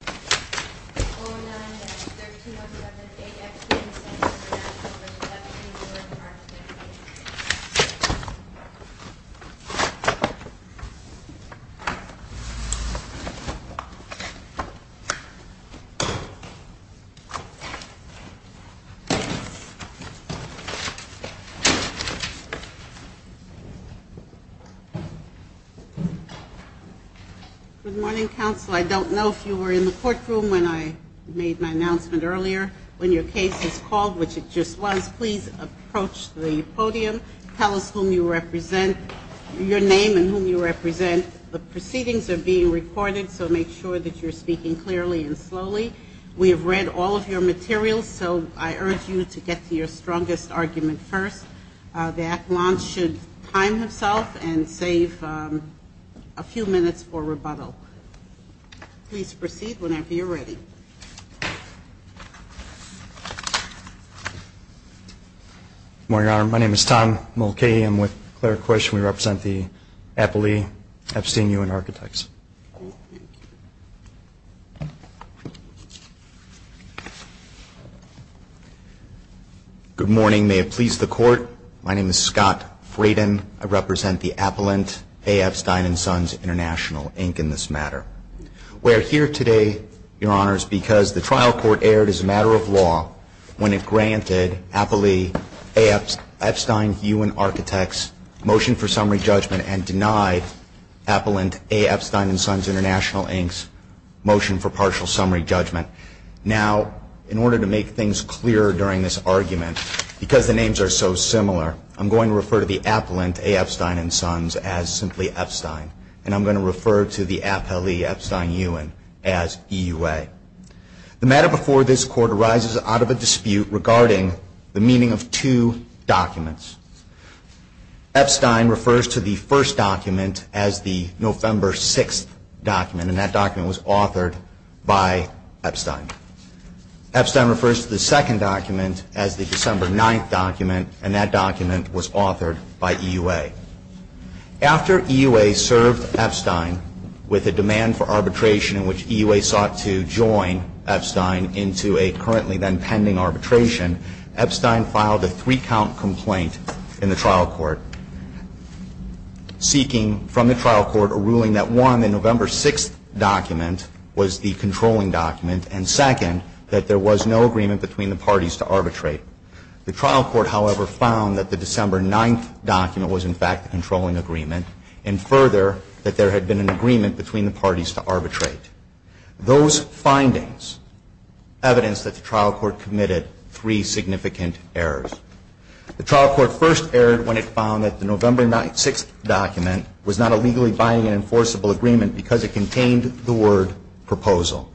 2009-13-07 A. Epstein & Sons International v. Eppstein Uhen Architects, Inc. Good morning, counsel. I don't know if you were in the courtroom when I made my announcement earlier. When your case is called, which it just was, please approach the podium. Tell us whom you represent, your name and whom you represent. The proceedings are being recorded, so make sure that you're speaking clearly and slowly. We have read all of your materials, so I urge you to get to your strongest argument first. The at-launch should time himself and save a few minutes for questions. Good morning, Your Honor. My name is Tom Mulcahy. I'm with Claire Quish. We represent the Applee Epstein Uhen Architects. Good morning. May it please the Court. My name is Scott Fraden. I represent the Appellant A. Epstein & Sons International, Inc. in this matter. We are here today, Your Honors, because the trial court aired as a matter of law when it granted Applee A. Epstein Uhen as EUA. The matter before this Court arises out of a dispute regarding the meaning of two documents. Epstein refers to the first document as the November 6th document, and that document was authored by Epstein. Epstein refers to the second document as the December 9th document, and that document was authored by EUA. After EUA served Epstein with a demand for arbitration in which EUA sought to join Epstein into a currently then The trial court, however, found that the December 9th document was, in fact, the controlling agreement, and further, that there had been an agreement between the parties to arbitrate. Those findings evidence that the trial court committed three significant errors. The trial court first erred when it not a legally binding and enforceable agreement because it contained the word proposal.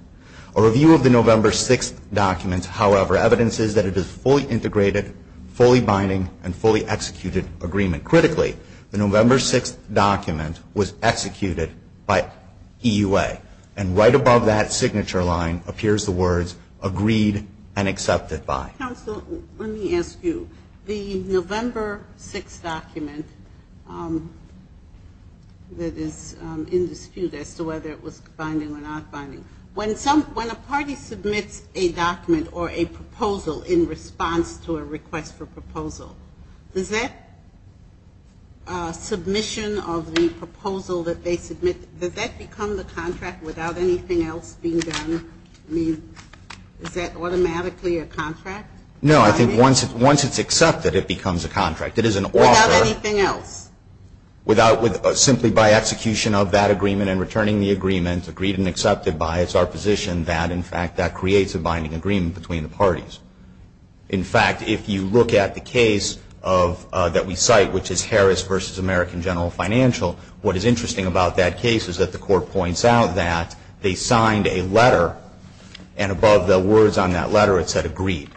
A review of the November 6th document, however, evidence is that it is fully integrated, fully binding, and fully executed agreement. Critically, the November 6th document was executed by EUA, and right above that signature line appears the words agreed and accepted by. Counsel, let me ask you. The November 6th document that is in dispute as to whether it was binding or not binding, when a party submits a document or a proposal in response to a request for proposal, does that submission of the proposal that they submit, does that become the contract without anything else being done? I mean, is that automatically a contract? No, I think once it's accepted, it becomes a contract. It is an offer. Without anything else? Simply by execution of that agreement and returning the agreement, agreed and accepted by, it's our position that, in fact, that creates a binding agreement between the parties. In fact, if you look at the case that we cite, which is Harris v. American General Financial, what is interesting about that case is that the Court points out that they signed a letter, and above the words on that letter, it said agreed.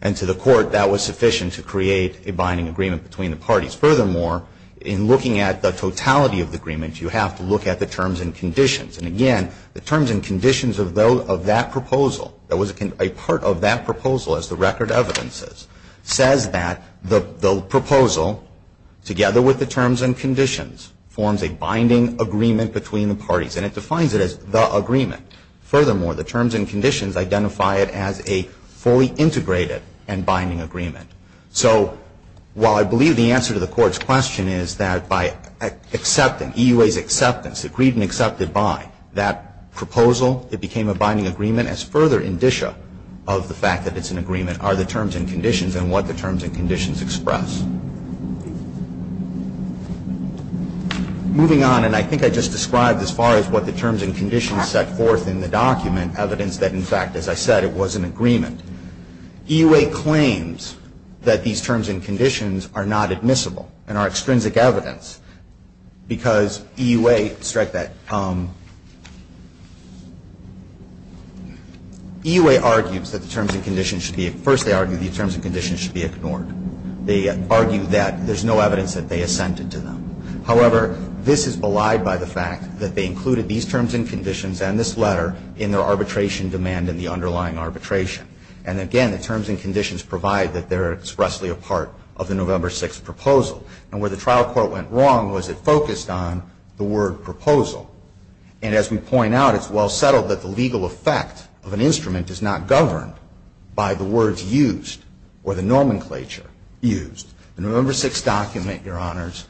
And to the Court, that was sufficient to create a binding agreement between the parties. Furthermore, in looking at the totality of the agreement, you have to look at the terms and conditions. And again, the terms and conditions of that proposal, that was a part of that proposal as the record evidence is, says that the proposal, together with the terms and conditions, forms a binding agreement between the parties. And it defines it as the agreement. Furthermore, the terms and conditions identify it as a fully integrated and binding agreement. So while I believe the answer to the Court's question is that by accepting, EUA's acceptance, agreed and accepted by, that proposal, it became a binding agreement, as further indicia of the fact that it's an agreement are the terms and conditions and what the terms and conditions express. Moving on, and I think I just described as far as what the terms and conditions set forth in the document, evidence that, in fact, as I said, it was an agreement. EUA claims that these terms and conditions are not admissible and are extrinsic evidence, because EUA, strike that, EUA argues that the terms and conditions should be, first they argue these terms and conditions should be ignored. They argue that there's no evidence that they assented to them. However, this is belied by the fact that they included these terms and conditions and this letter in their arbitration demand and the underlying arbitration. And again, the terms and conditions provide that they're expressly a part of the November 6th proposal. And where the trial court went wrong was it focused on the word proposal. And as we point out, it's well settled that the legal effect of an instrument is not governed by the words used or the nomenclature used. The November 6th document, Your Honors,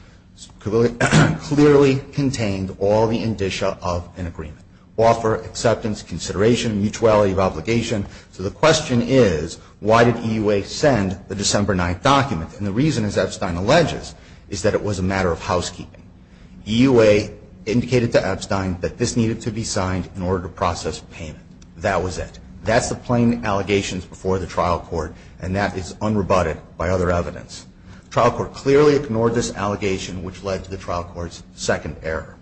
clearly contained all the indicia of an agreement. Offer, acceptance, consideration, mutuality of obligation. So the question is, why did EUA send the December 9th document? And the reason, as Epstein alleges, is that it was a matter of housekeeping. EUA indicated to Epstein that this needed to be signed in order to process payment. That was it. That's the plain allegations before the trial court. And that is unrebutted by other evidence. Trial court clearly ignored this allegation, which led to the trial court's second error.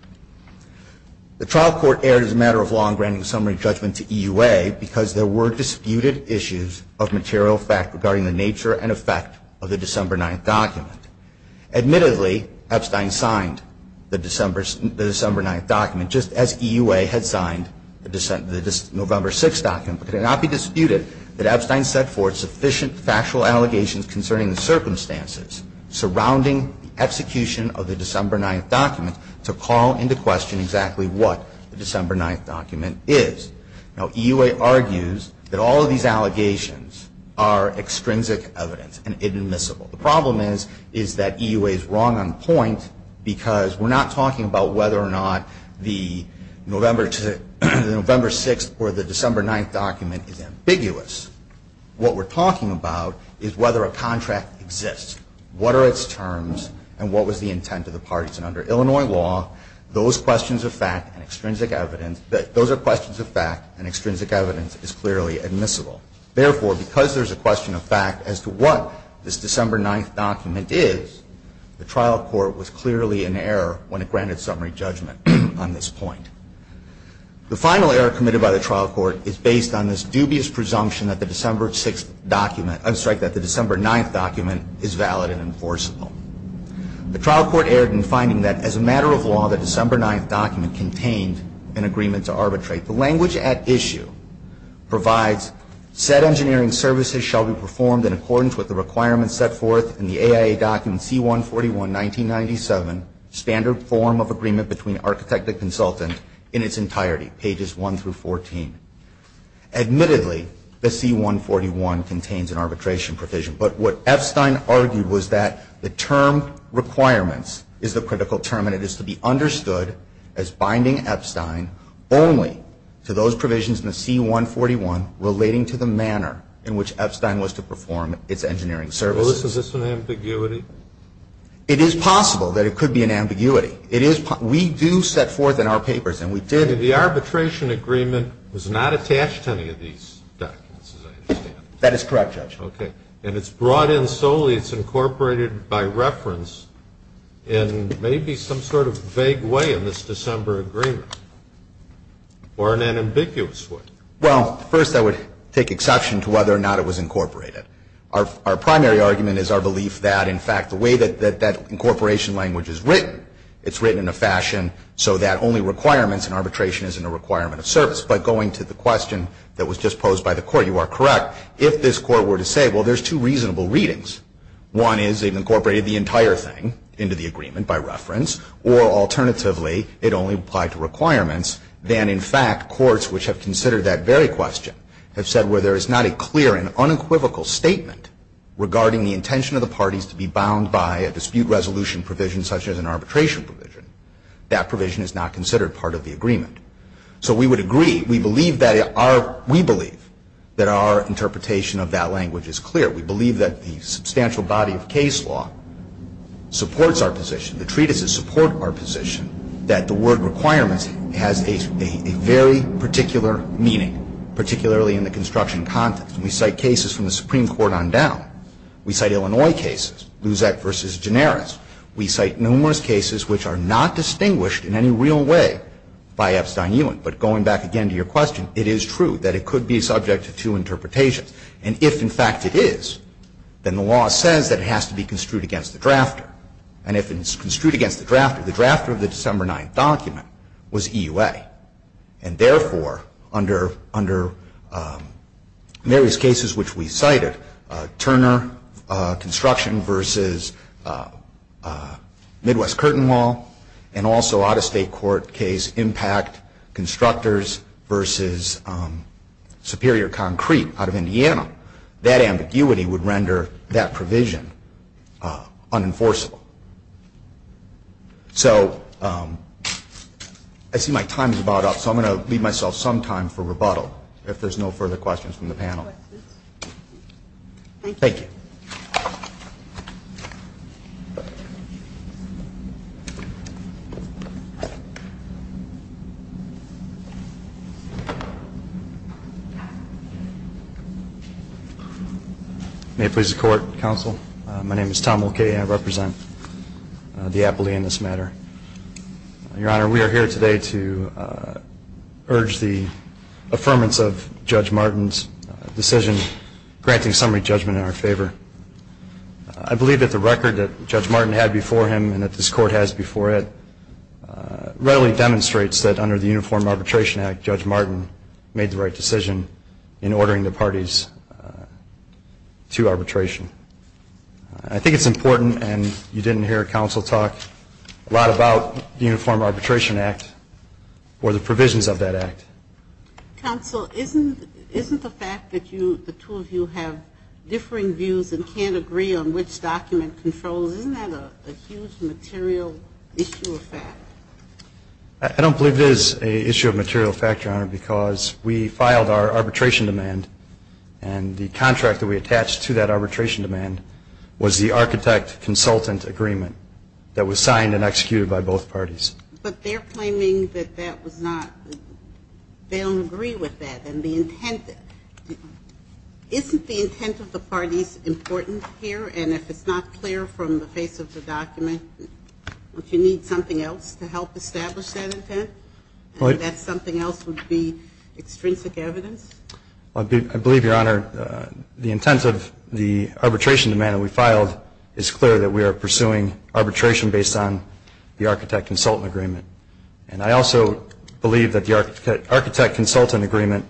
The trial court erred as a matter of long-ranging summary judgment to EUA because there were disputed issues of material fact regarding the nature and effect of the December 9th document. Admittedly, Epstein signed the December 9th document just as EUA had signed the November 6th document. But could it not be disputed that Epstein set forth sufficient factual allegations concerning the circumstances surrounding the execution of the December 9th document to call into question exactly what the December 9th document is? Now, EUA argues that all of these allegations are extrinsic evidence and inadmissible. The problem is, is that EUA is wrong on point because we're not talking about whether or not the November 6th or the December 9th document is ambiguous. What we're talking about is whether a contract exists, what are its terms, and what was the intent of the parties. And under Illinois law, those questions of fact and extrinsic evidence, those are questions of fact and extrinsic evidence is clearly admissible. Therefore, because there's a question of fact as to what this December 9th document is, the trial court was clearly in error when it granted summary judgment on this point. The final error committed by the trial court is based on this dubious presumption that the December 6th document, I'm sorry, that the December 9th document is valid and enforceable. The trial court erred in finding that as a matter of law, the December 9th document contained an agreement to arbitrate. The language at issue provides, said engineering services shall be performed in accordance with the requirements set forth in the AIA document C-141-1997, standard form of agreement between architect and consultant in its entirety, pages 1 through 14. Admittedly, the C-141 contains an arbitration provision, but what Epstein argued was that the term requirements is the critical term and it is to be understood as binding Epstein only to those provisions in the C-141 relating to the manner in which Epstein was to perform its engineering services. Well, is this an ambiguity? It is possible that it could be an ambiguity. It is. We do set forth in our papers and we did. The arbitration agreement was not attached to any of these documents, as I understand it. That is correct, Judge. Okay. And it's brought in solely, it's incorporated by reference in maybe some sort of vague way in this December agreement or in an ambiguous way. Well, first I would take exception to whether or not it was incorporated. Our primary argument is our belief that, in fact, the way that that incorporation language is written, it's written in a fashion so that only requirements and arbitration isn't a requirement of service. But going to the question that was just posed by the Court, you are correct. If this Court were to say, well, there's two reasonable readings, one is it incorporated the entire thing into the agreement by reference, or alternatively it only applied to requirements, then in fact courts which have considered that very question have said where there is not a clear and unequivocal statement regarding the intention of the parties to be bound by a dispute resolution provision such as an arbitration provision, that provision is not considered part of the agreement. So we would agree. We believe that our interpretation of that language is clear. We believe that the substantial body of case law supports our position, the treatises support our position, that the word requirements has a very particular meaning, particularly in the construction context. And we cite cases from the Supreme Court on down. We cite Illinois cases, Luzek v. Gineris. We cite numerous cases which are not distinguished in any real way by Epstein-Ewing. But going back again to your question, it is true that it could be subject to two interpretations. And if, in fact, it is, then the law says that it has to be construed against the drafter. And if it is construed against the drafter, the drafter of the December 9th document was EUA. And therefore, under various cases which we cited, Turner Construction v. Midwest Curtain Wall, and also out-of-state court case Impact Constructors v. Superior Concrete out of Indiana, that ambiguity would render that provision unenforceable. So I see my time is about up, so I'm going to leave myself some time for rebuttal, if there's no further questions from the panel. Thank you. May it please the Court, Counsel. My name is Tom Mulcahy. I represent the appellee in this matter. Your Honor, we are here today to urge the affirmance of Judge Martin's decision granting summary judgment in our favor. I believe that the record that Judge Martin had before him and that this Court has before it readily demonstrates that under the Uniform Arbitration Act, Judge Martin made the right decision in ordering the parties to arbitration. I think it's important, and you didn't hear a counsel talk, a lot about the Uniform Arbitration Act or the provisions of that act. Counsel, isn't the fact that the two of you have differing views and can't agree on which document controls, isn't that a huge material issue of fact? I don't believe it is an issue of material fact, Your Honor, because we filed our arbitration demand, and the contract that we attached to that arbitration demand was the architect consultant agreement that was signed and executed by both parties. But they're claiming that that was not, they don't agree with that. And the intent, isn't the intent of the parties important here? And if it's not clear from the face of the document, if you need something else to help establish that intent, that something else would be extrinsic evidence? I believe, Your Honor, the intent of the arbitration demand that we filed is clear that we are pursuing arbitration based on the architect consultant agreement. And I also believe that the architect consultant agreement,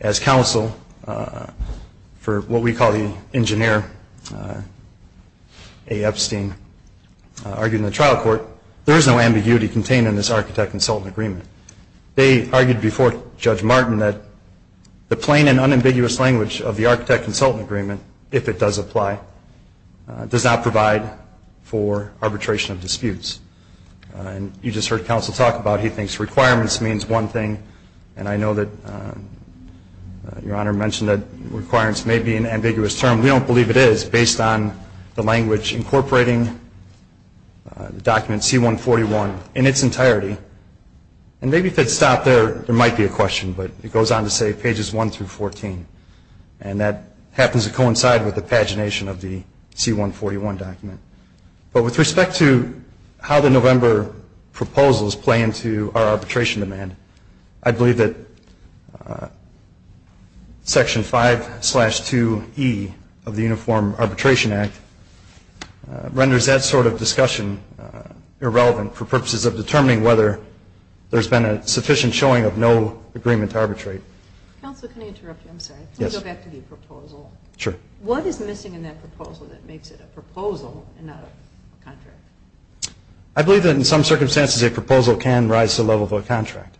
as counsel for what we call the engineer, A. Epstein, argued in the trial court, there is no ambiguity contained in this architect consultant agreement. They argued before Judge Martin that the plain and unambiguous language of the architect consultant agreement, if it does apply, does not provide for arbitration of disputes. And you just heard counsel talk about he thinks requirements means one thing, and I know that Your Honor mentioned that requirements may be an ambiguous term. We don't believe it is based on the language incorporating the document C-141 in its entirety. And maybe if it's stopped there, there might be a question, but it goes on to say pages 1 through 14. And that happens to coincide with the pagination of the C-141 document. But with respect to how the November proposals play into our arbitration demand, I believe that Section 5-2E of the Uniform Arbitration Act renders that sort of discussion irrelevant for purposes of determining whether there's been a sufficient showing of no agreement to arbitrate. Counsel, can I interrupt you? I'm sorry. Yes. Can we go back to the proposal? Sure. What is missing in that proposal that makes it a proposal and not a contract? I believe that in some circumstances a proposal can rise to the level of a contract.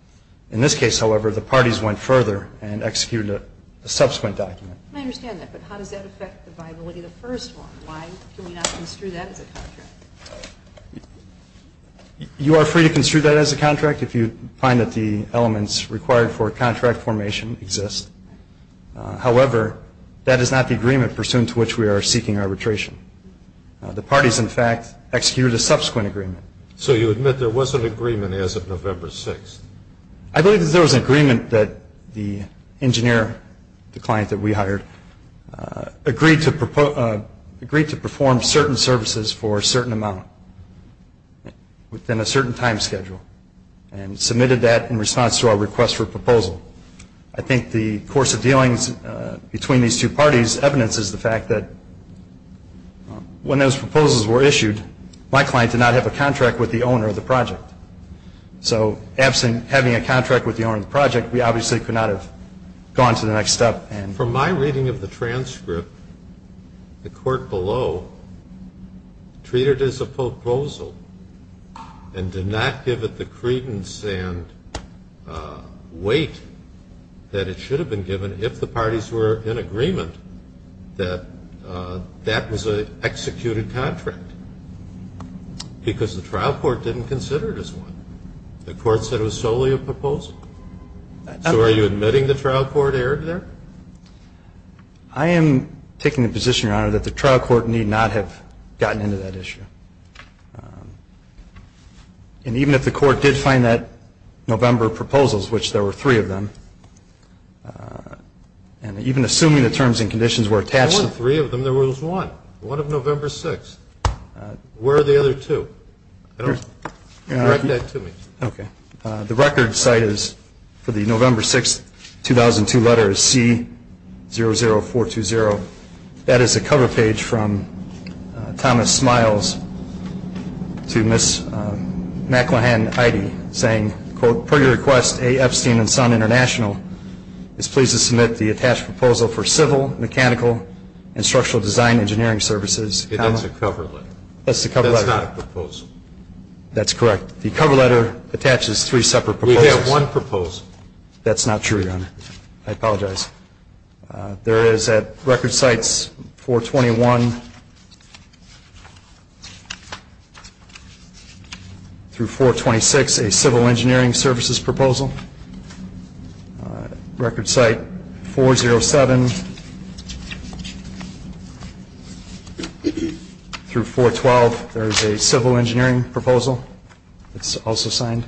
In this case, however, the parties went further and executed a subsequent document. I understand that, but how does that affect the viability of the first one? Why can we not construe that as a contract? You are free to construe that as a contract if you find that the elements required for contract formation exist. However, that is not the agreement pursuant to which we are seeking arbitration. The parties, in fact, executed a subsequent agreement. So you admit there was an agreement as of November 6th? I believe that there was an agreement that the engineer, the client that we hired, agreed to perform certain services for a certain amount within a certain time schedule and submitted that in response to our request for a proposal. I think the course of dealings between these two parties evidences the fact that when those proposals were issued, my client did not have a contract with the owner of the project. So absent having a contract with the owner of the project, we obviously could not have gone to the next step. From my reading of the transcript, the court below treated it as a proposal and did not give it the credence and weight that it should have been given if the parties were in agreement that that was an executed contract because the trial court didn't consider it as one. The court said it was solely a proposal. So are you admitting the trial court erred there? I am taking the position, Your Honor, that the trial court need not have gotten into that issue. And even if the court did find that November proposals, which there were three of them, and even assuming the terms and conditions were attached to them. There weren't three of them. There was one, one of November 6th. Where are the other two? Correct that to me. Okay. The record site is for the November 6th, 2002 letter is C00420. That is a cover page from Thomas Smiles to Ms. Macklehan-Ide saying, quote, per your request, A. Epstein and Son International is pleased to submit the attached proposal for civil, mechanical, and structural design engineering services. That's a cover letter. That's a cover letter. That's not a proposal. That's correct. The cover letter attaches three separate proposals. We have one proposal. That's not true, Your Honor. I apologize. There is at record sites 421 through 426 a civil engineering services proposal. At record site 407 through 412, there is a civil engineering proposal that's also signed.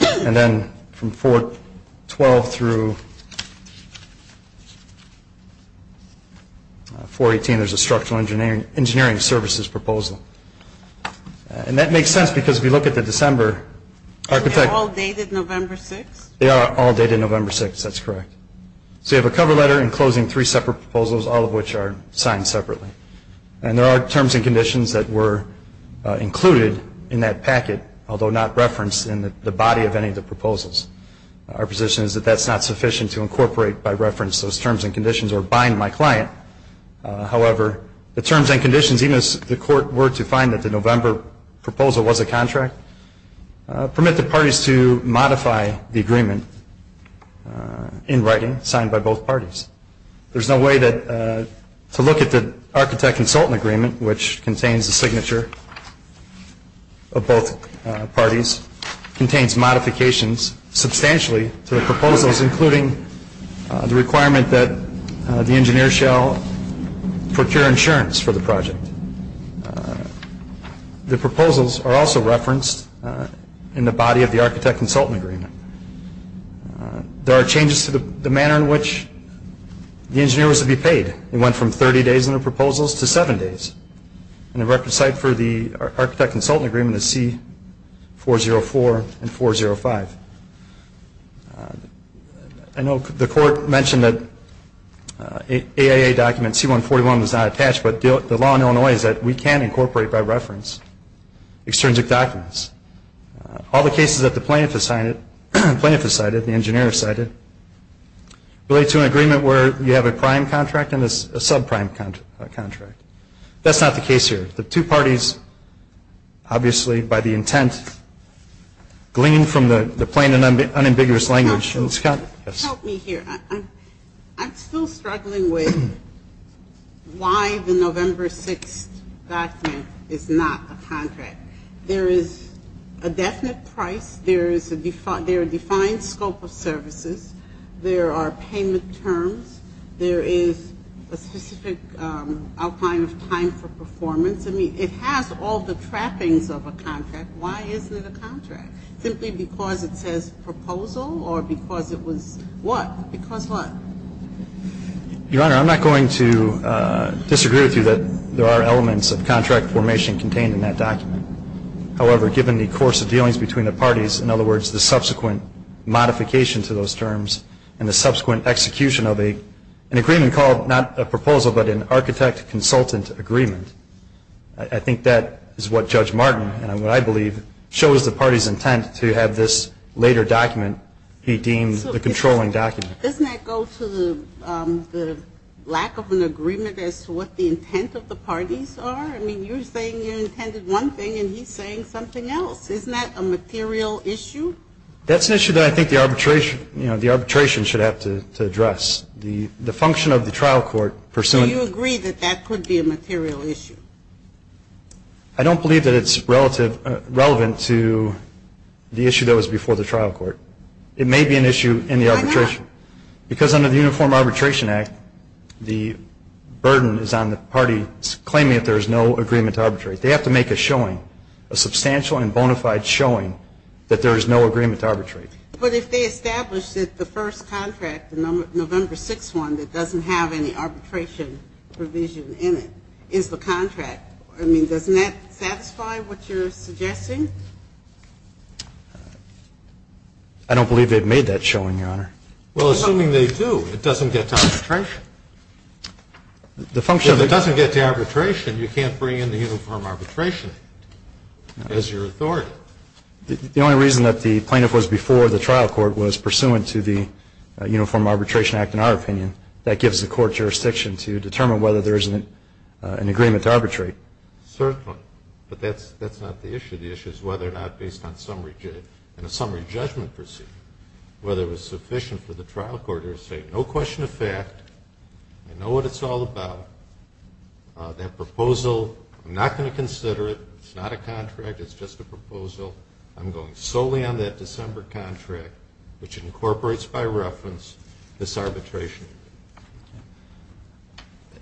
And then from 412 through 418, there's a structural engineering services proposal. And that makes sense because if you look at the December architecture. They are all dated November 6th? They are all dated November 6th. That's correct. So you have a cover letter enclosing three separate proposals, all of which are signed separately. And there are terms and conditions that were included in that packet, although not referenced in the body of any of the proposals. Our position is that that's not sufficient to incorporate by reference those terms and conditions or bind my client. However, the terms and conditions, even as the court were to find that the November proposal was a contract, permit the parties to modify the agreement in writing signed by both parties. There's no way to look at the architect-consultant agreement, which contains the signature of both parties, contains modifications substantially to the proposals, including the requirement that the engineer shall procure insurance for the project. The proposals are also referenced in the body of the architect-consultant agreement. There are changes to the manner in which the engineer was to be paid. It went from 30 days in the proposals to seven days. And the record site for the architect-consultant agreement is C404 and 405. I know the court mentioned that AIA document C141 was not attached, but the law in Illinois is that we can incorporate by reference extrinsic documents. All the cases that the plaintiff has cited, the engineer has cited, relate to an agreement where you have a prime contract and a subprime contract. That's not the case here. The two parties, obviously, by the intent, glean from the plain and unambiguous language. Help me here. I'm still struggling with why the November 6th document is not a contract. There is a definite price. There is a defined scope of services. There are payment terms. There is a specific outline of time for performance. I mean, it has all the trappings of a contract. Why isn't it a contract? Simply because it says proposal or because it was what? Because what? Your Honor, I'm not going to disagree with you that there are elements of contract formation contained in that document. However, given the course of dealings between the parties, in other words, the subsequent modification to those terms and the subsequent execution of an agreement called not a proposal, but an architect-consultant agreement, I think that is what Judge Martin, and what I believe, shows the party's intent to have this later document be deemed the controlling document. Doesn't that go to the lack of an agreement as to what the intent of the parties are? I mean, you're saying you intended one thing, and he's saying something else. Isn't that a material issue? That's an issue that I think the arbitration should have to address. The function of the trial court pursuant to that. That could be a material issue. I don't believe that it's relevant to the issue that was before the trial court. It may be an issue in the arbitration. Why not? Because under the Uniform Arbitration Act, the burden is on the parties claiming that there is no agreement to arbitrate. They have to make a showing, a substantial and bona fide showing, that there is no agreement to arbitrate. But if they establish that the first contract, the November 6 one, that doesn't have any arbitration provision in it is the contract, I mean, doesn't that satisfy what you're suggesting? I don't believe they've made that showing, Your Honor. Well, assuming they do, it doesn't get to arbitration. If it doesn't get to arbitration, you can't bring in the Uniform Arbitration Act as your authority. The only reason that the plaintiff was before the trial court was pursuant to the Uniform Arbitration Act, in our opinion, that gives the court jurisdiction to determine whether there is an agreement to arbitrate. Certainly. But that's not the issue. The issue is whether or not, based on a summary judgment procedure, whether it was sufficient for the trial court to say, no question of fact, I know what it's all about. That proposal, I'm not going to consider it. It's not a contract. It's just a proposal. I'm going solely on that December contract, which incorporates by reference this arbitration.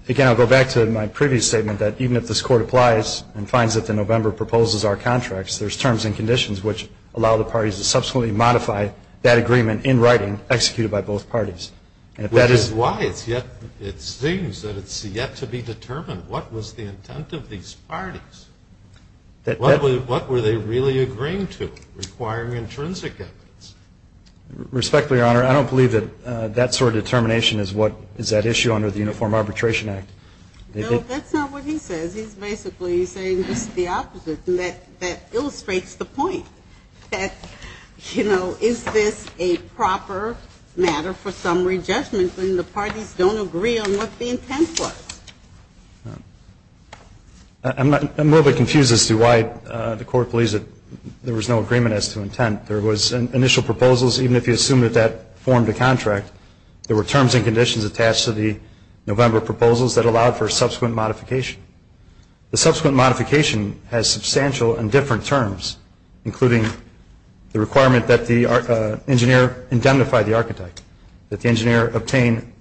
Again, I'll go back to my previous statement that even if this court applies and finds that the November proposal is our contract, there's terms and conditions which allow the parties to subsequently modify that agreement in writing, executed by both parties. Which is why it seems that it's yet to be determined what was the intent of these parties. What were they really agreeing to, requiring intrinsic evidence? Respectfully, Your Honor, I don't believe that that sort of determination is what is at issue under the Uniform Arbitration Act. No, that's not what he says. He's basically saying it's the opposite. And that illustrates the point, that, you know, is this a proper matter for summary judgment when the parties don't agree on what the intent was? I'm a little bit confused as to why the court believes that there was no agreement as to intent. There was initial proposals, even if you assume that that formed a contract, there were terms and conditions attached to the November proposals that allowed for subsequent modification. The subsequent modification has substantial and different terms, obtained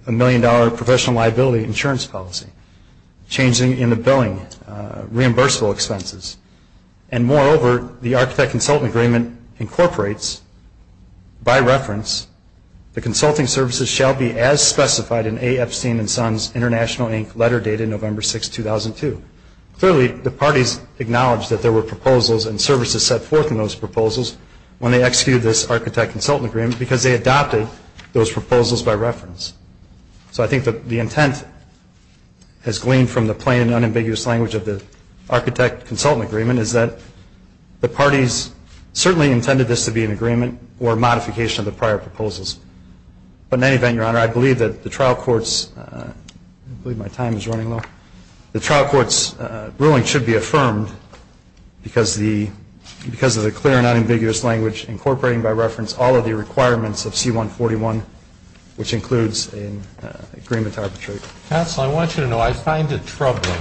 a million-dollar professional liability insurance policy, changing in the billing, reimbursable expenses. And moreover, the architect-consultant agreement incorporates, by reference, the consulting services shall be as specified in A. Epstein & Sons International, Inc., letter dated November 6, 2002. Clearly, the parties acknowledged that there were proposals and services set forth in those proposals when they executed this architect-consultant agreement because they adopted those proposals by reference. So I think that the intent has gleaned from the plain and unambiguous language of the architect-consultant agreement is that the parties certainly intended this to be an agreement or modification of the prior proposals. But in any event, Your Honor, I believe that the trial court's ruling should be affirmed because of the clear and unambiguous language incorporating, by reference, all of the requirements of C-141, which includes an agreement to arbitrate. Counsel, I want you to know I find it troubling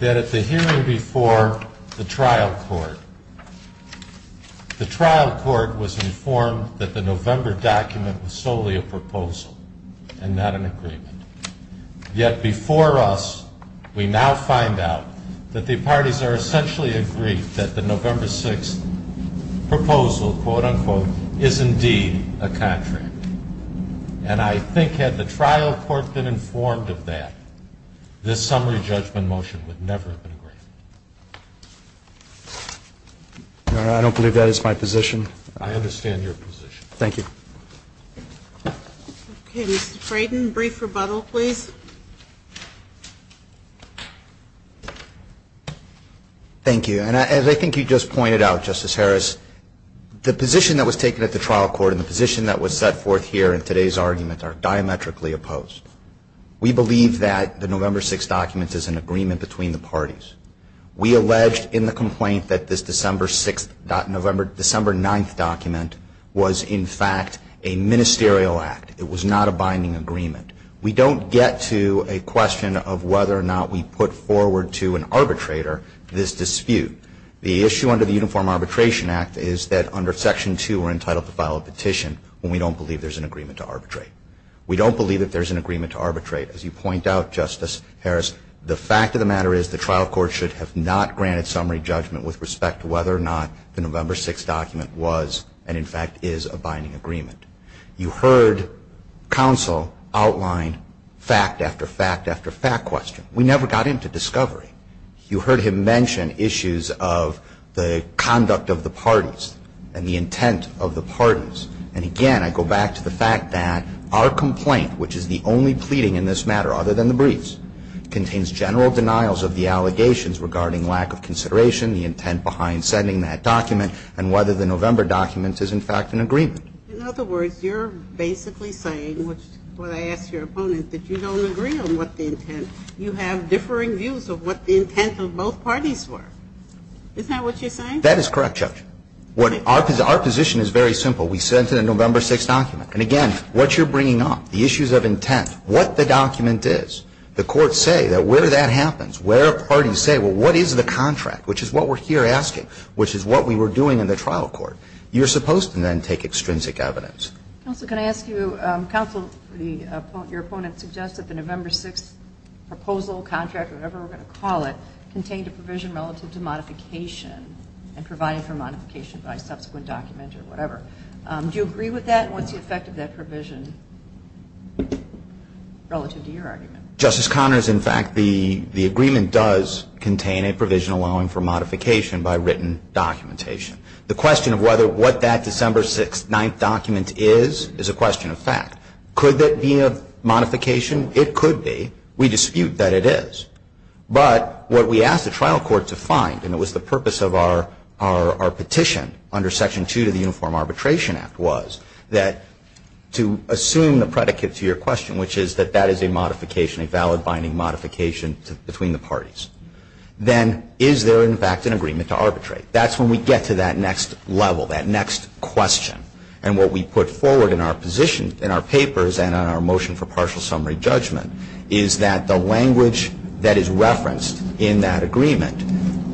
that at the hearing before the trial court, the trial court was informed that the November document was solely a proposal and not an agreement. Yet before us, we now find out that the parties are essentially agreed that the November document, quote-unquote, is indeed a contract. And I think had the trial court been informed of that, this summary judgment motion would never have been agreed. Your Honor, I don't believe that is my position. I understand your position. Thank you. Okay, Mr. Frayden, brief rebuttal, please. Thank you. And as I think you just pointed out, Justice Harris, the position that was taken at the trial court and the position that was set forth here in today's argument are diametrically opposed. We believe that the November 6th document is an agreement between the parties. We alleged in the complaint that this December 6th, December 9th document was, in fact, a ministerial act. It was not a binding agreement. We don't get to a question of whether or not we put forward to an arbitrator this dispute. The issue under the Uniform Arbitration Act is that under Section 2 we're entitled to file a petition when we don't believe there's an agreement to arbitrate. We don't believe that there's an agreement to arbitrate. As you point out, Justice Harris, the fact of the matter is the trial court should have not granted summary judgment with respect to whether or not the November 6th document was and, in fact, is a binding agreement. You heard counsel outline fact after fact after fact question. We never got into discovery. You heard him mention issues of the conduct of the parties and the intent of the parties. And, again, I go back to the fact that our complaint, which is the only pleading in this matter other than the briefs, contains general denials of the allegations regarding lack of consideration, the intent behind sending that document, and whether the November document is, in fact, an agreement. In other words, you're basically saying, which is what I asked your opponent, that you don't agree on what the intent. You have differing views of what the intent of both parties were. Is that what you're saying? That is correct, Judge. Our position is very simple. We sent in a November 6th document. And, again, what you're bringing up, the issues of intent, what the document is, the courts say that where that happens, where parties say, well, what is the contract, which is what we're here asking, which is what we were doing in the trial court, you're supposed to then take extrinsic evidence. Counsel, can I ask you, counsel, your opponent suggests that the November 6th document proposal, contract, whatever we're going to call it, contained a provision relative to modification and provided for modification by subsequent document or whatever. Do you agree with that? And what's the effect of that provision relative to your argument? Justice Connors, in fact, the agreement does contain a provision allowing for modification by written documentation. The question of whether what that December 6th, 9th document is, is a question of fact. Could that be a modification? It could be. We dispute that it is. But what we asked the trial court to find, and it was the purpose of our petition under Section 2 of the Uniform Arbitration Act, was that to assume the predicate to your question, which is that that is a modification, a valid binding modification between the parties. Then is there, in fact, an agreement to arbitrate? That's when we get to that next level, that next question. And what we put forward in our position, in our papers and on our motion for partial summary judgment, is that the language that is referenced in that agreement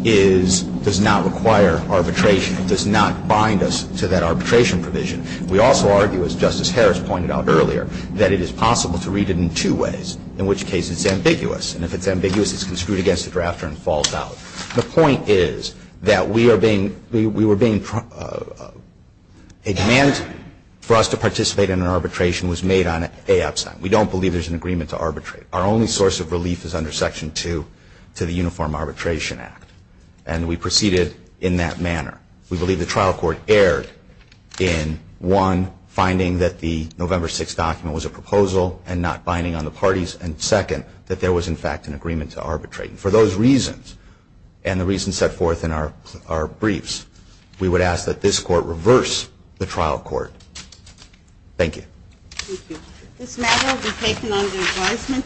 is, does not require arbitration. It does not bind us to that arbitration provision. We also argue, as Justice Harris pointed out earlier, that it is possible to read it in two ways, in which case it's ambiguous. And if it's ambiguous, it's construed against the drafter and falls out. The point is that we are being, we were being, a demand for us to participate in an arbitration was made on a upside. We don't believe there's an agreement to arbitrate. Our only source of relief is under Section 2 to the Uniform Arbitration Act. And we proceeded in that manner. We believe the trial court erred in, one, finding that the November 6th document was a proposal and not binding on the parties, and second, that there was, in fact, an agreement to arbitrate. And for those reasons, and the reasons set forth in our briefs, we would ask that this court reverse the trial court. Thank you. Thank you. This matter will be taken under advisement.